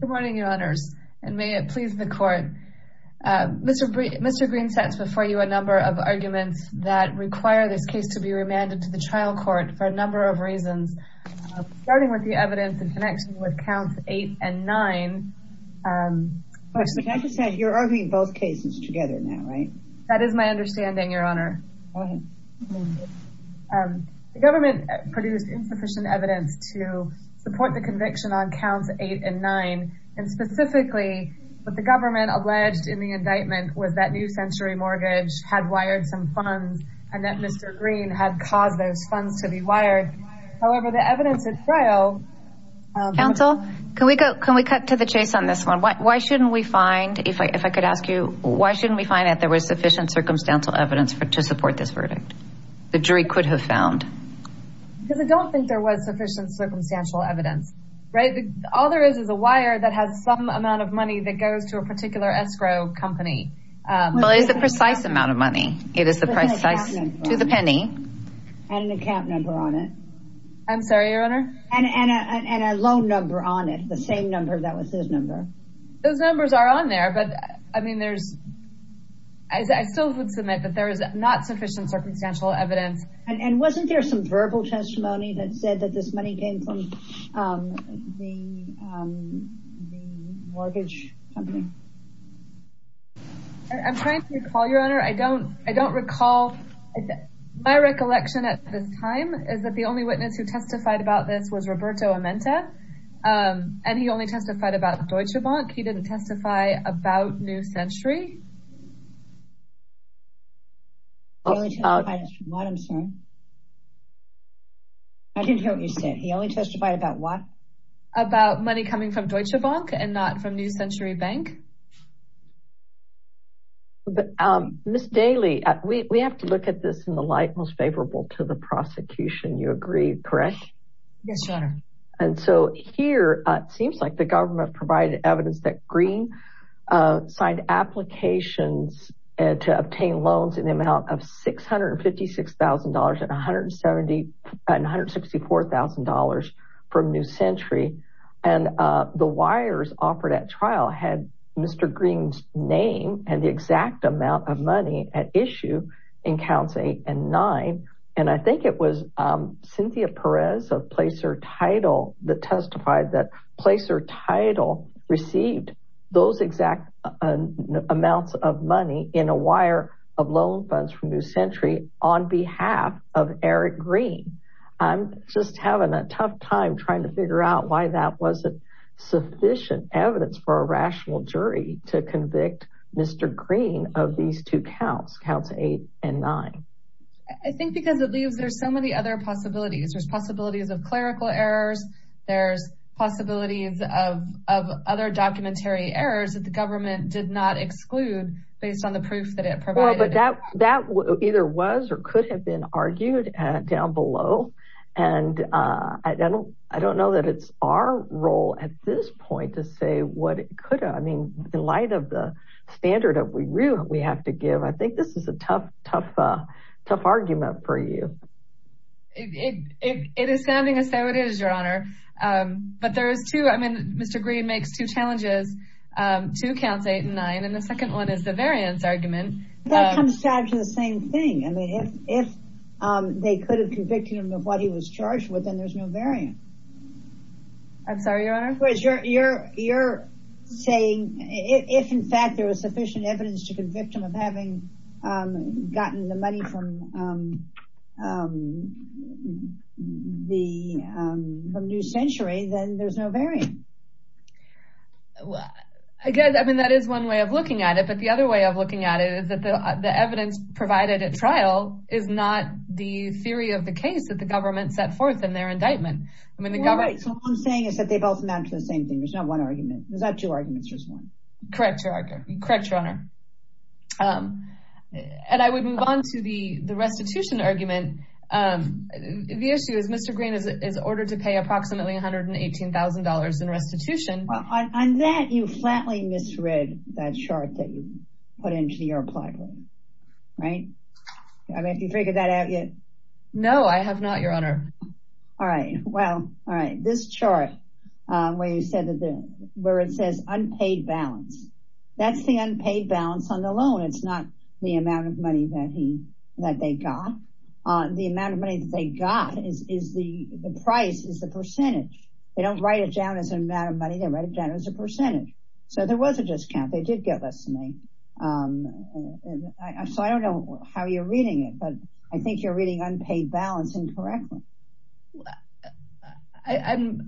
Good morning, your honors, and may it please the court. Mr. Mr. Green sets before you a number of arguments that require this case to be remanded to the trial court for a number of reasons, starting with the evidence in connection with counts eight and nine. You're arguing both cases together now, right? That is my understanding, your honor. The government produced insufficient evidence to support the conviction on counts eight and nine, and specifically what the government alleged in the indictment was that New Century Mortgage had wired some funds and that Mr. Green had caused those funds to be wired. However, the evidence is frail. Counsel, can we cut to the chase on this one? Why shouldn't we find, if I could ask you, why shouldn't we find that there was sufficient circumstantial evidence to support this verdict? The jury could have found. Because I don't think there was sufficient circumstantial evidence, right? All there is is a wire that has some amount of money that goes to a particular escrow company. Well, it is a precise amount of money. It is the price to the penny. And an account number on it. I'm sorry, your honor. And a loan number on it, the same number that was his number. Those numbers are on there, but I mean, there's, I still would submit that there is not sufficient circumstantial evidence. And wasn't there some verbal testimony that said that this money came from the mortgage company? I'm trying to recall, your honor. I don't, I don't recall. My recollection at this time is that the only witness who testified about this was Roberto Amenta. And he only testified about Deutsche Bank. He didn't testify about New Century. I didn't hear what you said. He only testified about what? About money coming from Deutsche Bank and not from New Century Bank. Ms. Daly, we have to look at this in the light most favorable to the prosecution. You agree, correct? Yes, your honor. And so here, it seems like the government provided evidence that Green signed applications to obtain loans in the amount of $656,000 and $164,000 from New Century. And the wires offered at trial had Mr. Green's name and the exact amount of money at issue in counts eight and nine. And I think it was Cynthia Perez of Placer Title that testified that Placer Title received those exact amounts of money in a wire of loan funds from New Century on behalf of Eric Green. I'm just having a tough time trying to figure out why that wasn't sufficient evidence for a rational jury to convict Mr. Green of these two counts, counts eight and nine. I think because it leaves, there's so many other possibilities. There's possibilities of clerical errors. There's possibilities of other documentary errors that the government did not exclude based on the proof that it provided. Well, but that either was or could have been argued down below. And I don't know that it's our role at this point to say what it could have. I mean, in light of the standard that we have to give, I think this is a tough, tough, tough argument for you. It is sounding as though it is, Your Honor. But there is two. I mean, Mr. Green makes two challenges, two counts, eight and nine. And the second one is the variance argument. That comes down to the same thing. I mean, if they could have convicted him of what he was charged with, then there's no variance. I'm sorry, Your Honor. You're saying if, in fact, there was sufficient evidence to convict him of having gotten the money from New Century, then there's no variance. Well, I guess, I mean, that is one way of looking at it. But the other way of looking at it is that the evidence provided at trial is not the theory of the case that the government set forth in their indictment. Well, you're right. So what I'm saying is that they both amount to the same thing. There's not one argument. There's not two arguments. There's one. Correct, Your Honor. And I would move on to the restitution argument. The issue is Mr. Green is ordered to pay approximately $118,000 in restitution. On that, you flatly misread that chart that you put into your platform, right? I mean, have you figured that out yet? No, I have not, Your Honor. All right. Well, all right. This chart where it says unpaid balance, that's the unpaid balance on the loan. It's not the amount of money that they got. The amount of money that they got is the price, is the percentage. They don't write it down as an amount of money. They write it down as a percentage. So there was a discount. They did get less than that. So I don't know how you're reading it. But I think you're reading unpaid balance incorrectly. I'm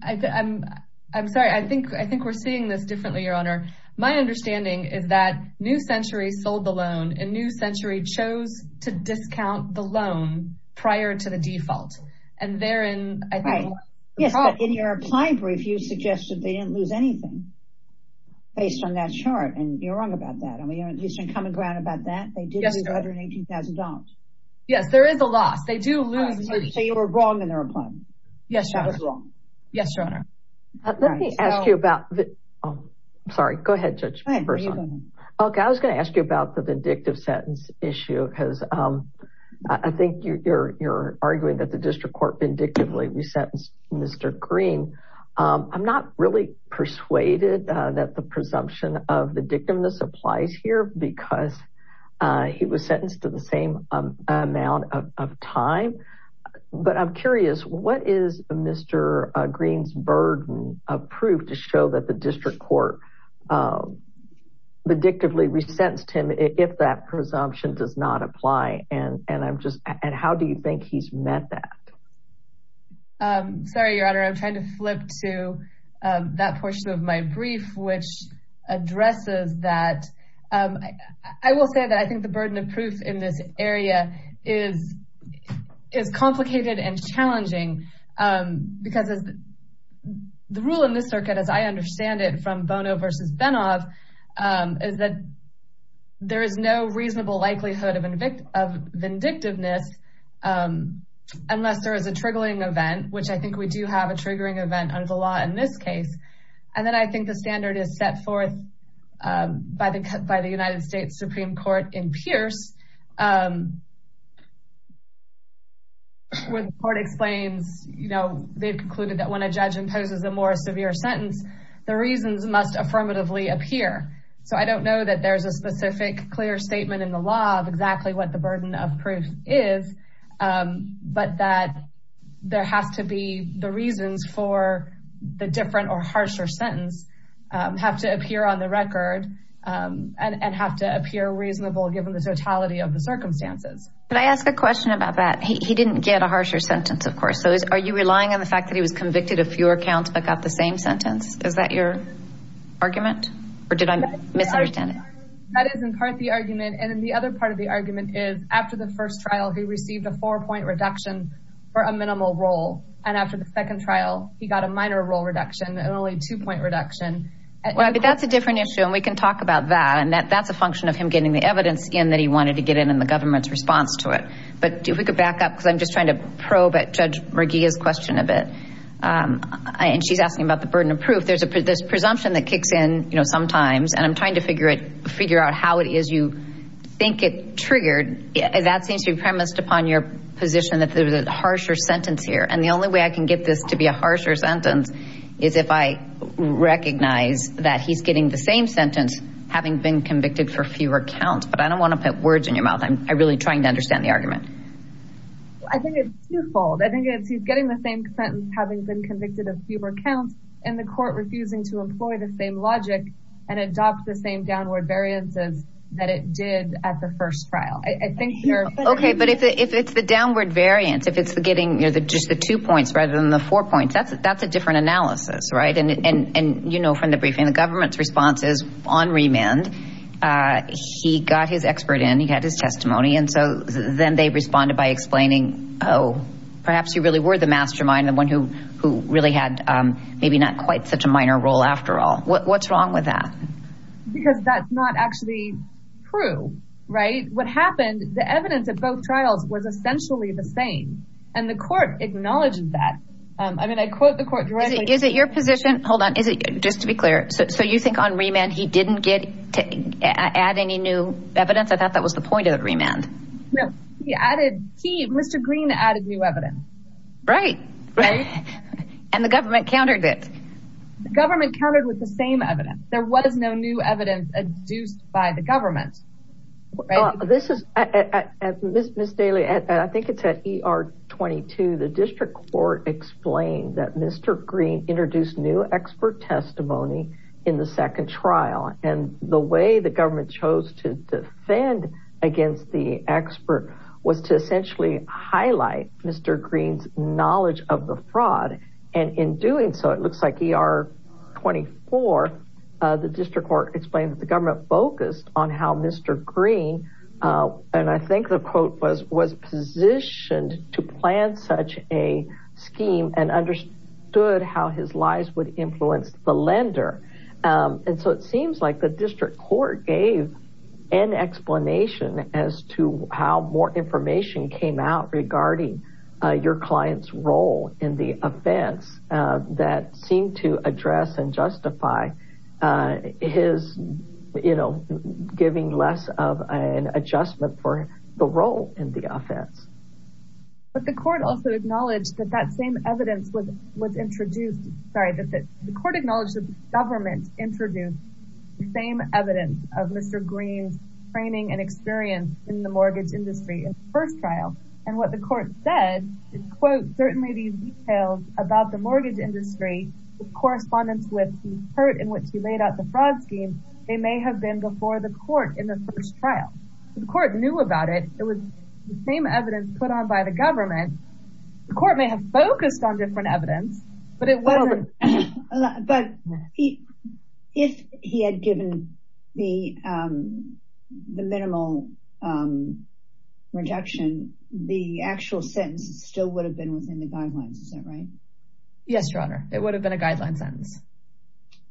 sorry. I think we're seeing this differently, Your Honor. My understanding is that New Century sold the loan, and New Century chose to discount the loan prior to the default. And therein, I think, was the problem. Yes, but in your applying brief, you suggested they didn't lose anything based on that chart. And you're wrong about that. I mean, you shouldn't come and go out about that. They did lose $118,000. Yes, there is a loss. They do lose money. So you were wrong in their applying. Yes, Your Honor. That was wrong. Yes, Your Honor. Let me ask you about the – I'm sorry. Go ahead, Judge Persaud. Go ahead. You go ahead. Okay. I was going to ask you about the vindictive sentence issue, because I think you're arguing that the district court vindictively resentenced Mr. Green. I'm not really persuaded that the presumption of vindictiveness applies here, because he was sentenced to the same amount of time. But I'm curious, what is Mr. Green's burden of proof to show that the district court vindictively resentenced him if that presumption does not apply? And how do you think he's met that? Sorry, Your Honor. I'm trying to flip to that portion of my brief, which addresses that. I will say that I think the burden of proof in this area is complicated and challenging, because the rule in this circuit, as I understand it from Bono versus Benov, is that there is no reasonable likelihood of vindictiveness unless there is a triggering event, which I think we do have a triggering event under the law in this case. And then I think the standard is set forth by the United States Supreme Court in Pierce, where the court explains – they've concluded that when a judge imposes a more severe sentence, the reasons must affirmatively appear. So I don't know that there's a specific clear statement in the law of exactly what the burden of proof is, but that there has to be the reasons for the different or harsher sentence have to appear on the record and have to appear reasonable given the totality of the circumstances. Can I ask a question about that? He didn't get a harsher sentence, of course. So are you relying on the fact that he was convicted of fewer counts but got the same sentence? Is that your argument? Or did I misunderstand it? That is in part the argument. And then the other part of the argument is after the first trial, he received a four-point reduction for a minimal role. And after the second trial, he got a minor role reduction and only a two-point reduction. Well, that's a different issue, and we can talk about that. And that's a function of him getting the evidence in that he wanted to get in in the government's response to it. But if we could back up because I'm just trying to probe at Judge Merguia's question a bit. And she's asking about the burden of proof. There's presumption that kicks in sometimes, and I'm trying to figure out how it is you think it triggered. That seems to be premised upon your position that there's a harsher sentence here. And the only way I can get this to be a harsher sentence is if I recognize that he's getting the same sentence having been convicted for fewer counts. But I don't want to put words in your mouth. I'm really trying to understand the argument. I think it's twofold. I think it's he's getting the same sentence having been convicted of fewer counts, and the court refusing to employ the same logic and adopt the same downward variances that it did at the first trial. Okay, but if it's the downward variance, if it's getting just the two points rather than the four points, that's a different analysis, right? And you know from the briefing, the government's response is on remand. He got his expert in. He had his testimony. And so then they responded by explaining, oh, perhaps you really were the mastermind, the one who really had maybe not quite such a minor role after all. What's wrong with that? Because that's not actually true, right? What happened, the evidence at both trials was essentially the same, and the court acknowledged that. I mean, I quote the court directly. Is it your position? Hold on. Just to be clear, so you think on remand he didn't get to add any new evidence? I thought that was the point of remand. No. He added, Mr. Green added new evidence. Right. Right. And the government countered it. The government countered with the same evidence. There was no new evidence adduced by the government. This is, Ms. Daly, I think it's at ER 22. The district court explained that Mr. Green introduced new expert testimony in the second trial. And the way the government chose to defend against the expert was to essentially highlight Mr. Green's knowledge of the fraud. And in doing so, it looks like ER 24, the district court explained that the government focused on how Mr. Green, and I think the quote was, was positioned to plan such a scheme and understood how his lies would influence the lender. And so it seems like the district court gave an explanation as to how more information came out regarding your client's role in the offense that seemed to address and justify his, you know, giving less of an adjustment for the role in the offense. But the court also acknowledged that that same evidence was introduced. Sorry, the court acknowledged that the government introduced the same evidence of Mr. Green's training and experience in the mortgage industry in the first trial. And what the court said is, quote, certainly these details about the mortgage industry with correspondence with the part in which he laid out the fraud scheme, they may have been before the court in the first trial. The court knew about it. It was the same evidence put on by the government. The court may have focused on different evidence, but it wasn't. But if he had given me the minimal reduction, the actual sentence still would have been within the guidelines. Is that right? Yes, Your Honor. It would have been a guideline sentence.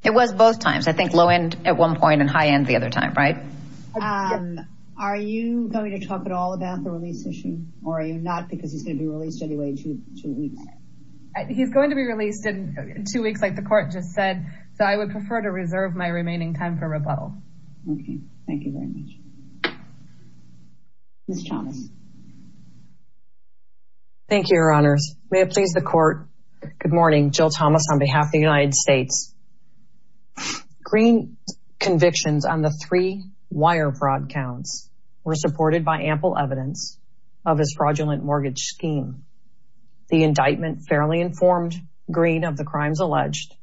It was both times. I think low end at one point and high end the other time, right? Are you going to talk at all about the release issue or are you not? Because he's going to be released anyway in two weeks. He's going to be released in two weeks, like the court just said. So I would prefer to reserve my remaining time for rebuttal. OK, thank you very much. Ms. Chavez. Thank you, Your Honors. May it please the court. Good morning. Jill Thomas on behalf of the United States. Green convictions on the three wire fraud counts were supported by ample evidence of his fraudulent mortgage scheme. The indictment fairly informed Green of the crimes alleged.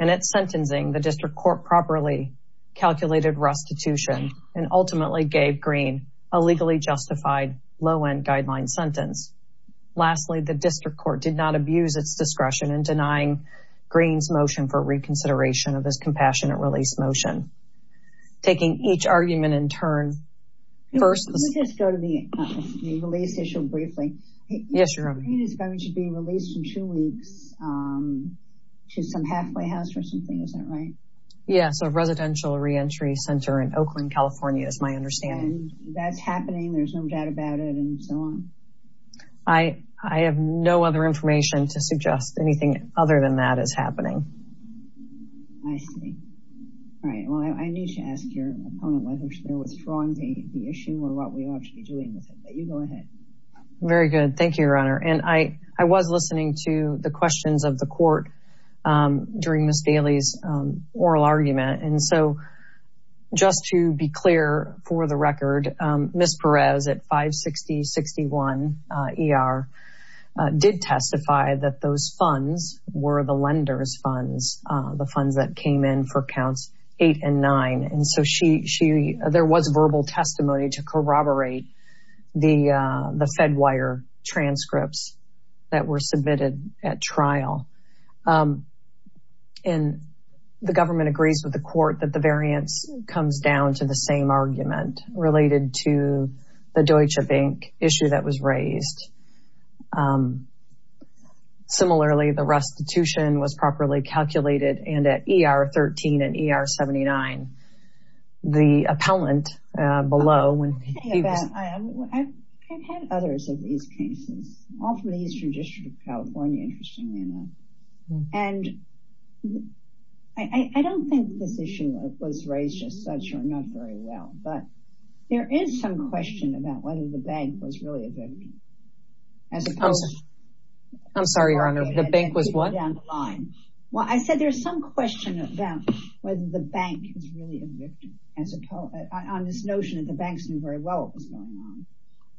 And at sentencing, the district court properly calculated restitution and ultimately gave Green a legally justified low end guideline sentence. Lastly, the district court did not abuse its discretion in denying Green's motion for reconsideration of this compassionate release motion, taking each argument in turn. First, let's just go to the release issue briefly. Yes, Your Honor. Green is going to be released in two weeks to some halfway house or something. Is that right? Yes, a residential reentry center in Oakland, California, is my understanding. And that's happening. There's no doubt about it and so on. I have no other information to suggest anything other than that is happening. I see. All right. Well, I need to ask your opponent whether they're withdrawing the issue or what we ought to be doing with it. You go ahead. Very good. Thank you, Your Honor. And I was listening to the questions of the court during Ms. Bailey's oral argument. And so just to be clear, for the record, Ms. Perez at 560-61 ER did testify that those funds were the lender's funds, the funds that came in for counts eight and nine. And so she she there was verbal testimony to corroborate the the Fedwire transcripts that were submitted at trial. And the government agrees with the court that the variance comes down to the same argument related to the Deutsche Bank issue that was raised. Similarly, the restitution was properly calculated and at ER 13 and ER 79. The appellant below when he was. I've had others of these cases, all from the Eastern District of California, interestingly enough. And I don't think this issue was raised as such or not very well. But there is some question about whether the bank was really a victim. I'm sorry, Your Honor. The bank was what? Well, I said there's some question about whether the bank is really a victim as opposed to this notion that the banks knew very well what was going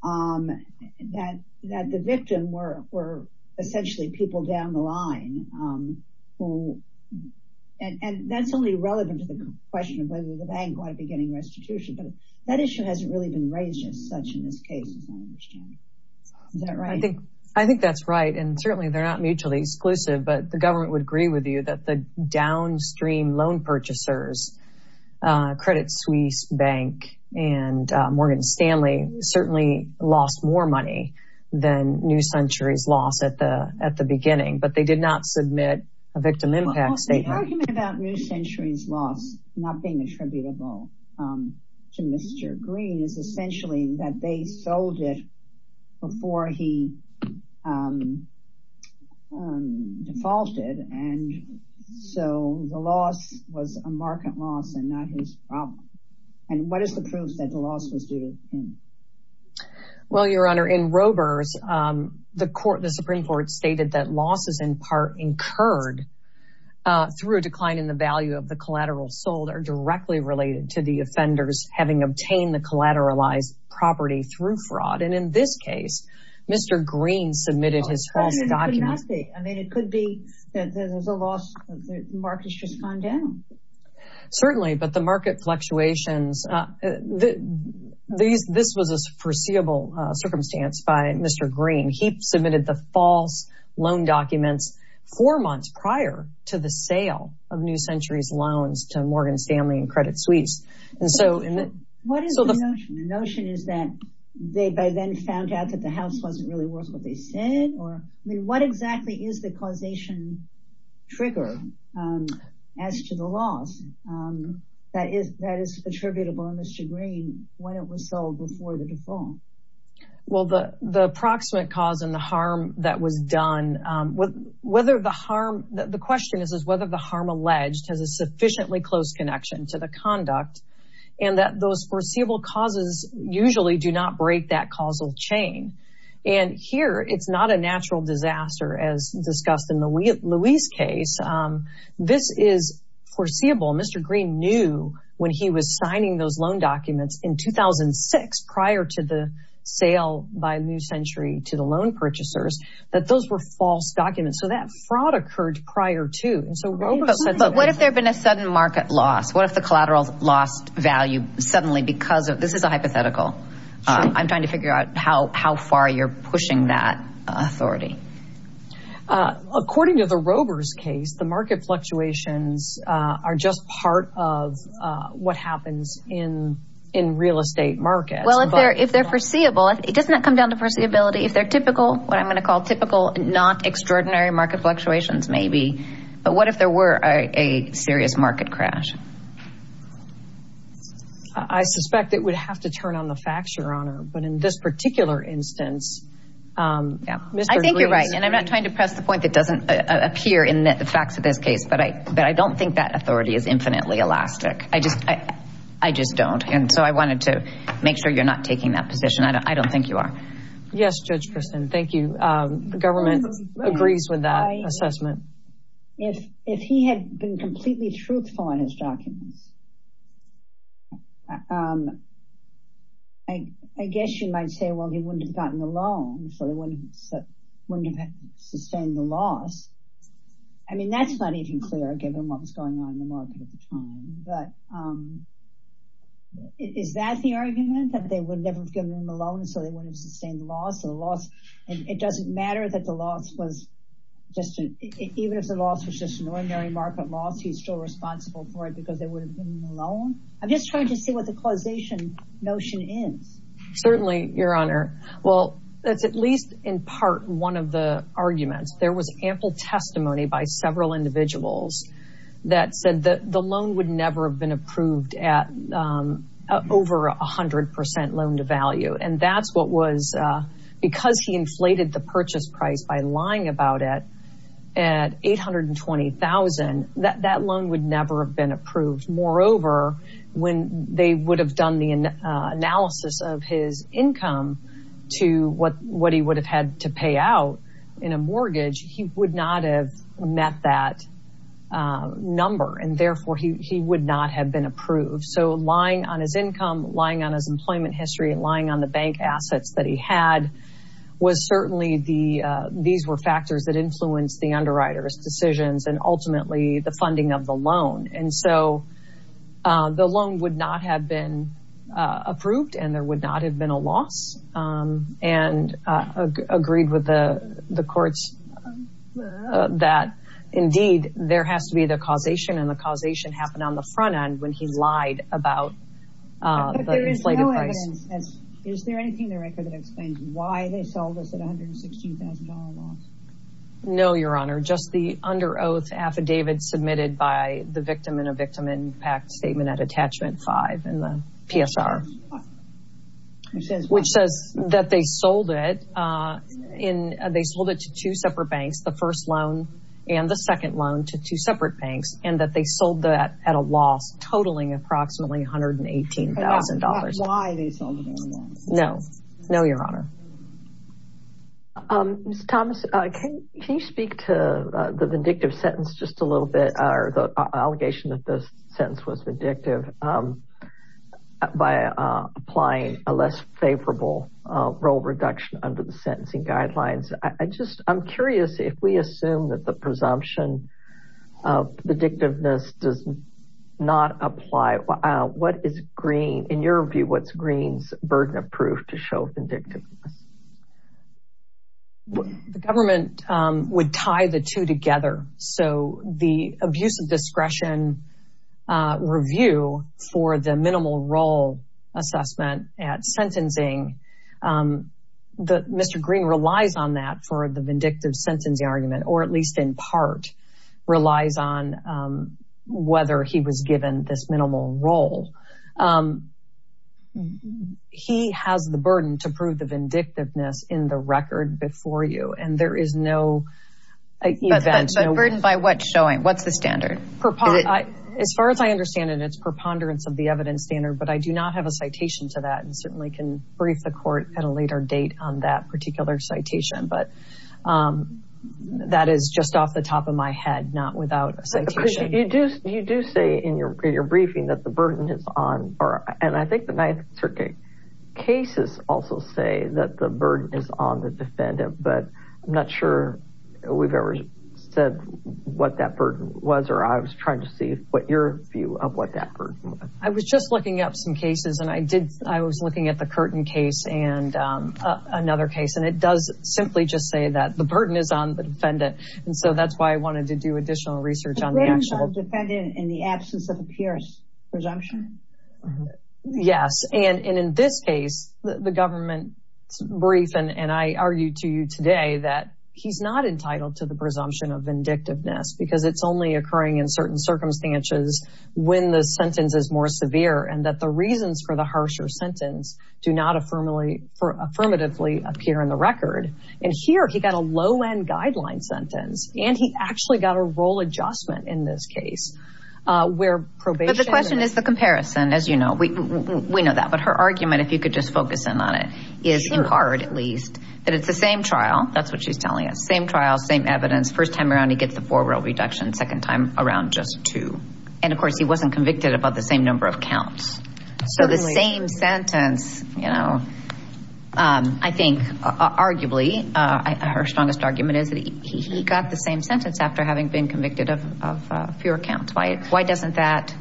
on, that that the victim were were essentially people down the line. And that's only relevant to the question of whether the bank ought to be getting restitution. But that issue hasn't really been raised as such in this case. I think I think that's right. And certainly they're not mutually exclusive, but the government would agree with you that the downstream loan purchasers Credit Suisse Bank and Morgan Stanley certainly lost more money than New Century's loss at the at the beginning. But they did not submit a victim impact statement. The argument about New Century's loss not being attributable to Mr. Green is essentially that they sold it before he defaulted. And so the loss was a market loss and not his problem. And what is the proof that the loss was due to him? Well, Your Honor, in Roberts, the court, the Supreme Court stated that losses in part incurred through a decline in the value of the collateral sold are directly related to the offenders having obtained the collateralized property through fraud. And in this case, Mr. Green submitted his false documents. I mean, it could be that there's a loss of the market's just gone down. Certainly. But the market fluctuations, this was a foreseeable circumstance by Mr. Green. He submitted the false loan documents four months prior to the sale of New Century's loans to Morgan Stanley and Credit Suisse. What is the notion? The notion is that they by then found out that the house wasn't really worth what they said? Or what exactly is the causation trigger as to the loss that is attributable to Mr. Green when it was sold before the default? Well, the the approximate cause and the harm that was done with whether the harm. The question is, is whether the harm alleged has a sufficiently close connection to the conduct and that those foreseeable causes usually do not break that causal chain. And here it's not a natural disaster, as discussed in the Louis case. This is foreseeable. Mr. Green knew when he was signing those loan documents in 2006 prior to the sale by New Century to the loan purchasers that those were false documents. So that fraud occurred prior to. And so what if there had been a sudden market loss? What if the collateral lost value suddenly because of this is a hypothetical. I'm trying to figure out how how far you're pushing that authority. According to the rovers case, the market fluctuations are just part of what happens in in real estate markets. Well, if they're if they're foreseeable, it doesn't come down to person ability. If they're typical, what I'm going to call typical, not extraordinary market fluctuations, maybe. But what if there were a serious market crash? I suspect it would have to turn on the facts, Your Honor. But in this particular instance. Yeah, I think you're right. And I'm not trying to press the point that doesn't appear in the facts of this case. But I but I don't think that authority is infinitely elastic. I just I just don't. And so I wanted to make sure you're not taking that position. I don't think you are. Yes, Judge. Thank you. The government agrees with that assessment. If if he had been completely truthful in his documents. I guess you might say, well, he wouldn't have gotten the loan. So they wouldn't have sustained the loss. I mean, that's not even clear, given what was going on in the market at the time. But is that the argument that they would never have given him a loan? So they wouldn't have sustained the loss of the loss. And it doesn't matter that the loss was just even if the loss was just an ordinary market loss, he's still responsible for it because they would have been alone. I'm just trying to see what the causation notion is. Certainly, Your Honor. Well, that's at least in part one of the arguments. There was ample testimony by several individuals that said that the loan would never have been approved at over 100 percent loan to value. And that's what was because he inflated the purchase price by lying about it at eight hundred and twenty thousand. That loan would never have been approved. Moreover, when they would have done the analysis of his income to what what he would have had to pay out in a mortgage, he would not have met that number and therefore he would not have been approved. So lying on his income, lying on his employment history, lying on the bank assets that he had was certainly the. These were factors that influenced the underwriter's decisions and ultimately the funding of the loan. And so the loan would not have been approved and there would not have been a loss. And agreed with the courts that, indeed, there has to be the causation and the causation happened on the front end when he lied about the inflated price. Is there anything in the record that explains why they sold us at one hundred and sixteen thousand dollars loss? No, Your Honor. Just the under oath affidavit submitted by the victim in a victim impact statement at attachment five in the PSR. Which says which says that they sold it in. They sold it to two separate banks, the first loan and the second loan to two separate banks, and that they sold that at a loss totaling approximately one hundred and eighteen thousand dollars. Why they sold it? No, no, Your Honor. Thomas, can you speak to the vindictive sentence just a little bit? The allegation that this sentence was vindictive by applying a less favorable role reduction under the sentencing guidelines. I just I'm curious if we assume that the presumption of the dictiveness does not apply. What is green in your view? What's green's burden of proof to show vindictiveness? The government would tie the two together. So the abuse of discretion review for the minimal role assessment at sentencing that Mr. Green relies on that for the vindictive sentencing argument, or at least in part relies on whether he was given this minimal role. He has the burden to prove the vindictiveness in the record before you. And there is no burden by what showing what's the standard? As far as I understand it, it's preponderance of the evidence standard. But I do not have a citation to that and certainly can brief the court at a later date on that particular citation. But that is just off the top of my head, not without a citation. You do say in your briefing that the burden is on. And I think the Ninth Circuit cases also say that the burden is on the defendant. But I'm not sure we've ever said what that burden was or I was trying to see what your view of what that burden was. I was just looking up some cases and I did. I was looking at the Curtin case and another case and it does simply just say that the burden is on the defendant. And so that's why I wanted to do additional research on the actual defendant in the absence of a Pierce presumption. Yes. And in this case, the government brief and I argue to you today that he's not entitled to the presumption of vindictiveness because it's only occurring in certain circumstances when the sentence is more severe and that the reasons for the harsher sentence do not affirmatively appear in the record. And here he got a low end guideline sentence and he actually got a role adjustment in this case where probation. The question is the comparison. As you know, we know that. But her argument, if you could just focus in on it, is in part at least that it's the same trial. That's what she's telling us. Same trial, same evidence. First time around, he gets the four row reduction. Second time around, just two. And of course, he wasn't convicted above the same number of counts. So the same sentence, you know, I think arguably her strongest argument is that he got the same sentence after having been convicted of fewer counts. Why? Why doesn't that.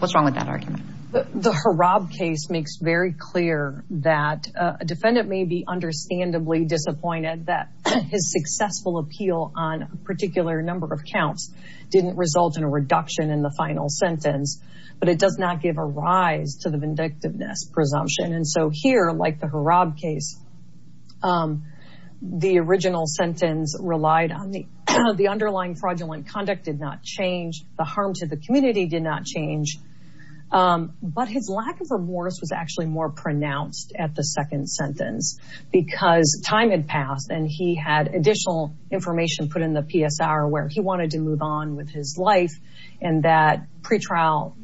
What's wrong with that argument? The Rob case makes very clear that a defendant may be understandably disappointed that his successful appeal on a particular number of counts didn't result in a reduction in the final sentence. But it does not give a rise to the vindictiveness presumption. And so here, like the Rob case, the original sentence relied on the underlying fraudulent conduct did not change. The harm to the community did not change. But his lack of remorse was actually more pronounced at the second sentence because time had passed and he had additional information put in the PSR where he wanted to move on with his life. And that pretrial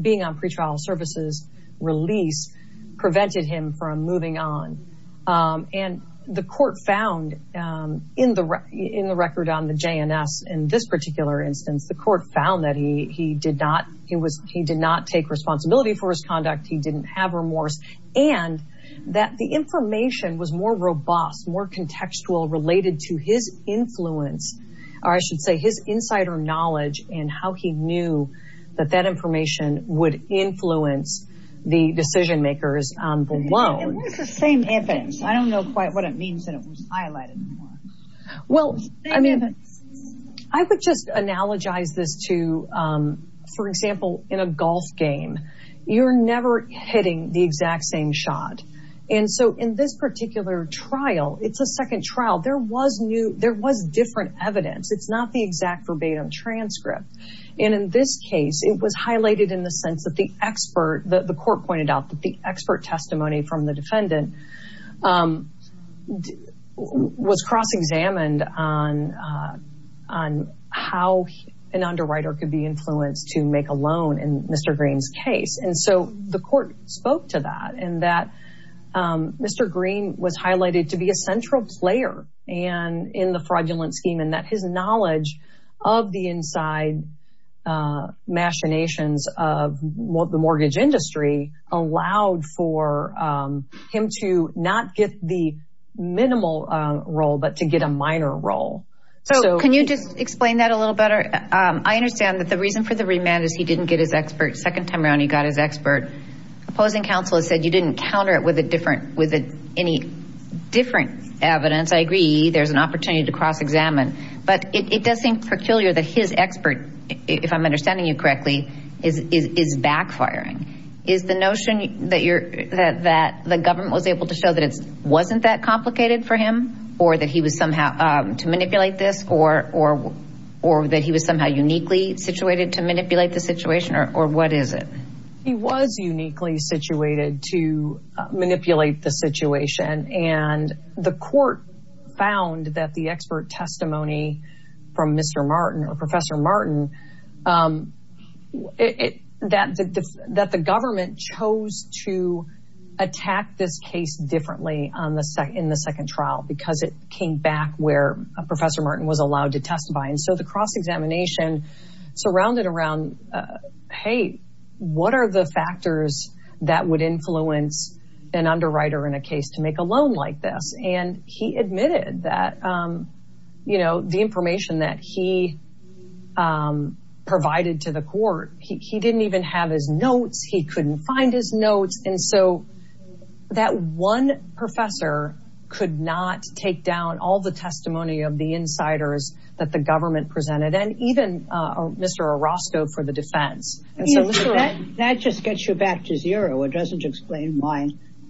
being on pretrial services release prevented him from moving on. And the court found in the record on the JNS in this particular instance, the court found that he did not he was he did not take responsibility for his conduct. He didn't have remorse. And that the information was more robust, more contextual related to his influence. Or I should say his insider knowledge and how he knew that that information would influence the decision makers below. It was the same evidence. I don't know quite what it means that it was highlighted. Well, I mean, I would just analogize this to, for example, in a golf game, you're never hitting the exact same shot. And so in this particular trial, it's a second trial. There was new there was different evidence. It's not the exact verbatim transcript. And in this case, it was highlighted in the sense that the expert that the court pointed out that the expert testimony from the defendant was cross examined on on how an underwriter could be influenced to make a loan. And Mr. Green's case. And so the court spoke to that and that Mr. Green was highlighted to be a central player and in the fraudulent scheme and that his knowledge of the inside machinations of the mortgage industry allowed for him to not get the minimal role, but to get a minor role. So can you just explain that a little better? I understand that the reason for the remand is he didn't get his expert. Second time around, he got his expert. Opposing counsel has said you didn't counter it with a different with any different evidence. I agree. There's an opportunity to cross examine. But it does seem peculiar that his expert, if I'm understanding you correctly, is backfiring. Is the notion that you're that the government was able to show that it wasn't that complicated for him or that he was somehow to manipulate this or or or that he was somehow uniquely situated to manipulate the situation or what is it? He was uniquely situated to manipulate the situation. And the court found that the expert testimony from Mr. Martin or Professor Martin, it that that the government chose to attack this case differently in the second trial because it came back where Professor Martin was allowed to testify. And so the cross examination surrounded around, hey, what are the factors that would influence an underwriter in a case to make a loan like this? And he admitted that, you know, the information that he provided to the court, he didn't even have his notes. He couldn't find his notes. And so that one professor could not take down all the testimony of the insiders that the government presented. And even Mr. Orozco for the defense. And so that just gets you back to zero. It doesn't explain why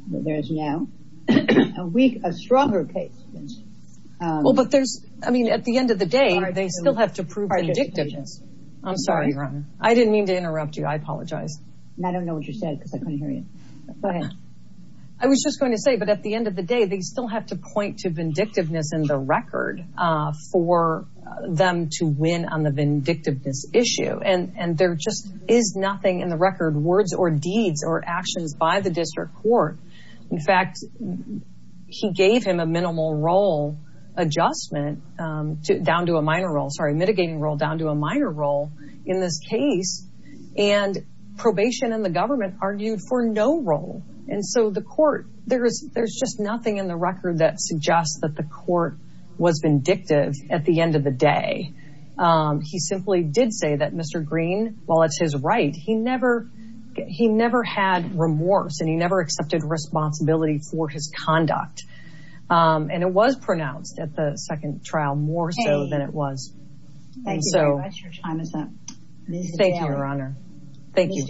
there is now a week, a stronger case. Well, but there's I mean, at the end of the day, they still have to prove their dictators. I'm sorry. I didn't mean to interrupt you. I apologize. I don't know what you said because I couldn't hear you. But I was just going to say, but at the end of the day, they still have to point to vindictiveness in the record for them to win on the vindictiveness issue. And there just is nothing in the record, words or deeds or actions by the district court. In fact, he gave him a minimal role adjustment down to a minor role, sorry, mitigating role down to a minor role in this case. And probation and the government argued for no role. And so the court there is there's just nothing in the record that suggests that the court was vindictive at the end of the day. He simply did say that, Mr. Green, while it's his right, he never he never had remorse. And he never accepted responsibility for his conduct. And it was pronounced at the second trial more so than it was. Thank you very much. Your time is up. Thank you, Your Honor. Thank you.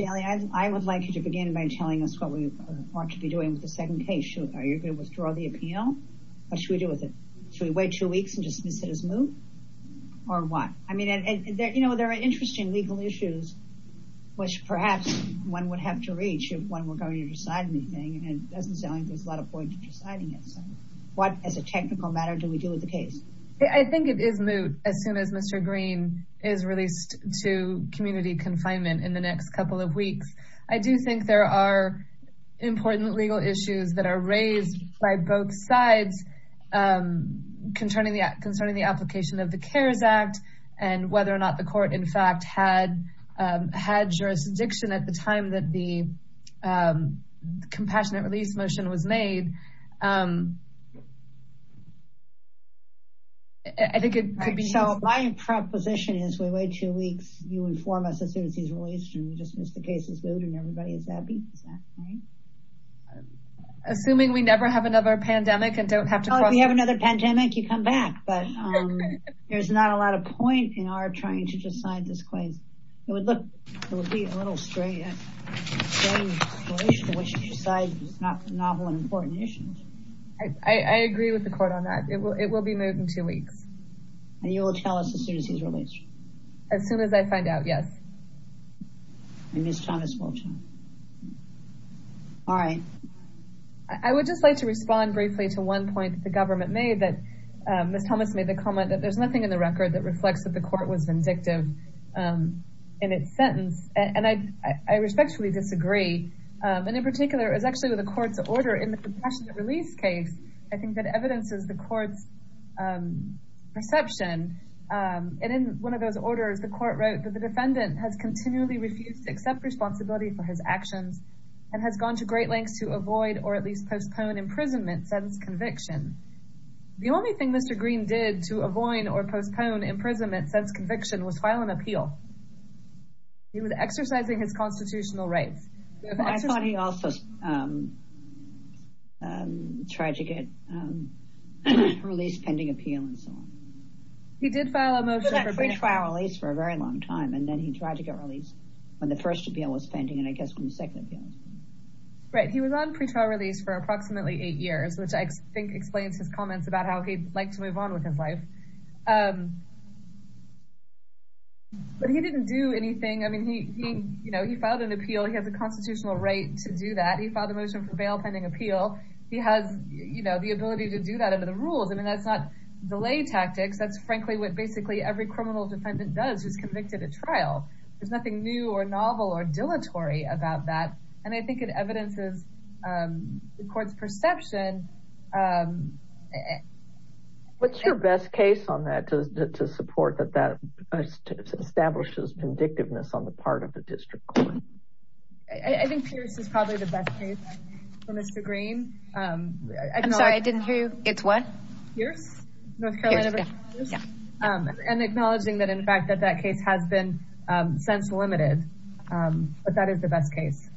I would like you to begin by telling us what we want to be doing with the second case. Are you going to withdraw the appeal? What should we do with it? Should we wait two weeks and dismiss it as moved or what? I mean, you know, there are interesting legal issues, which perhaps one would have to reach if one were going to decide anything. And it doesn't sound like there's a lot of point in deciding it. What as a technical matter do we do with the case? I think it is moot as soon as Mr. Green is released to community confinement in the next couple of weeks. I do think there are important legal issues that are raised by both sides concerning the application of the CARES Act and whether or not the court, in fact, had had jurisdiction at the time that the compassionate release motion was made. I think it could be. So my proposition is we wait two weeks. You inform us as soon as he's released and we dismiss the case as moved and everybody is happy. Assuming we never have another pandemic and don't have to have another pandemic, you come back. But there's not a lot of point in our trying to decide this case. It would look, it would be a little strange to decide it's not novel and important issues. I agree with the court on that. It will be moved in two weeks. And you will tell us as soon as he's released? As soon as I find out, yes. And Ms. Thomas will tell. All right. I would just like to respond briefly to one point the government made that Ms. Thomas made the comment that there's nothing in the record that reflects that the court was vindictive in its sentence. And I respectfully disagree. And in particular, it was actually with the court's order in the compassionate release case. I think that evidences the court's perception. And in one of those orders, the court wrote that the defendant has continually refused to accept responsibility for his actions and has gone to great lengths to avoid or at least postpone imprisonment since conviction. The only thing Mr. Green did to avoid or postpone imprisonment since conviction was file an appeal. He was exercising his constitutional rights. I thought he also tried to get released pending appeal and so on. He did file a motion for pre-trial release for a very long time. And then he tried to get released when the first appeal was pending and I guess when the second appeal was pending. Right. He was on pre-trial release for approximately eight years, which I think explains his comments about how he'd like to move on with his life. But he didn't do anything. I mean, he filed an appeal. He has a constitutional right to do that. He filed a motion for bail pending appeal. He has the ability to do that under the rules. I mean, that's not delay tactics. That's frankly what basically every criminal defendant does who's convicted at trial. There's nothing new or novel or dilatory about that. And I think it evidences the court's perception. What's your best case on that to support that that establishes vindictiveness on the part of the district court? I think Pierce is probably the best case for Mr. Green. I'm sorry, I didn't hear you. It's what? Pierce? And acknowledging that in fact that that case has been since limited. But that is the best case.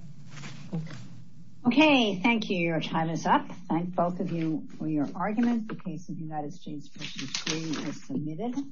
Okay. Thank you. Your time is up. Thank both of you for your arguments. The case of United States v. Green is submitted.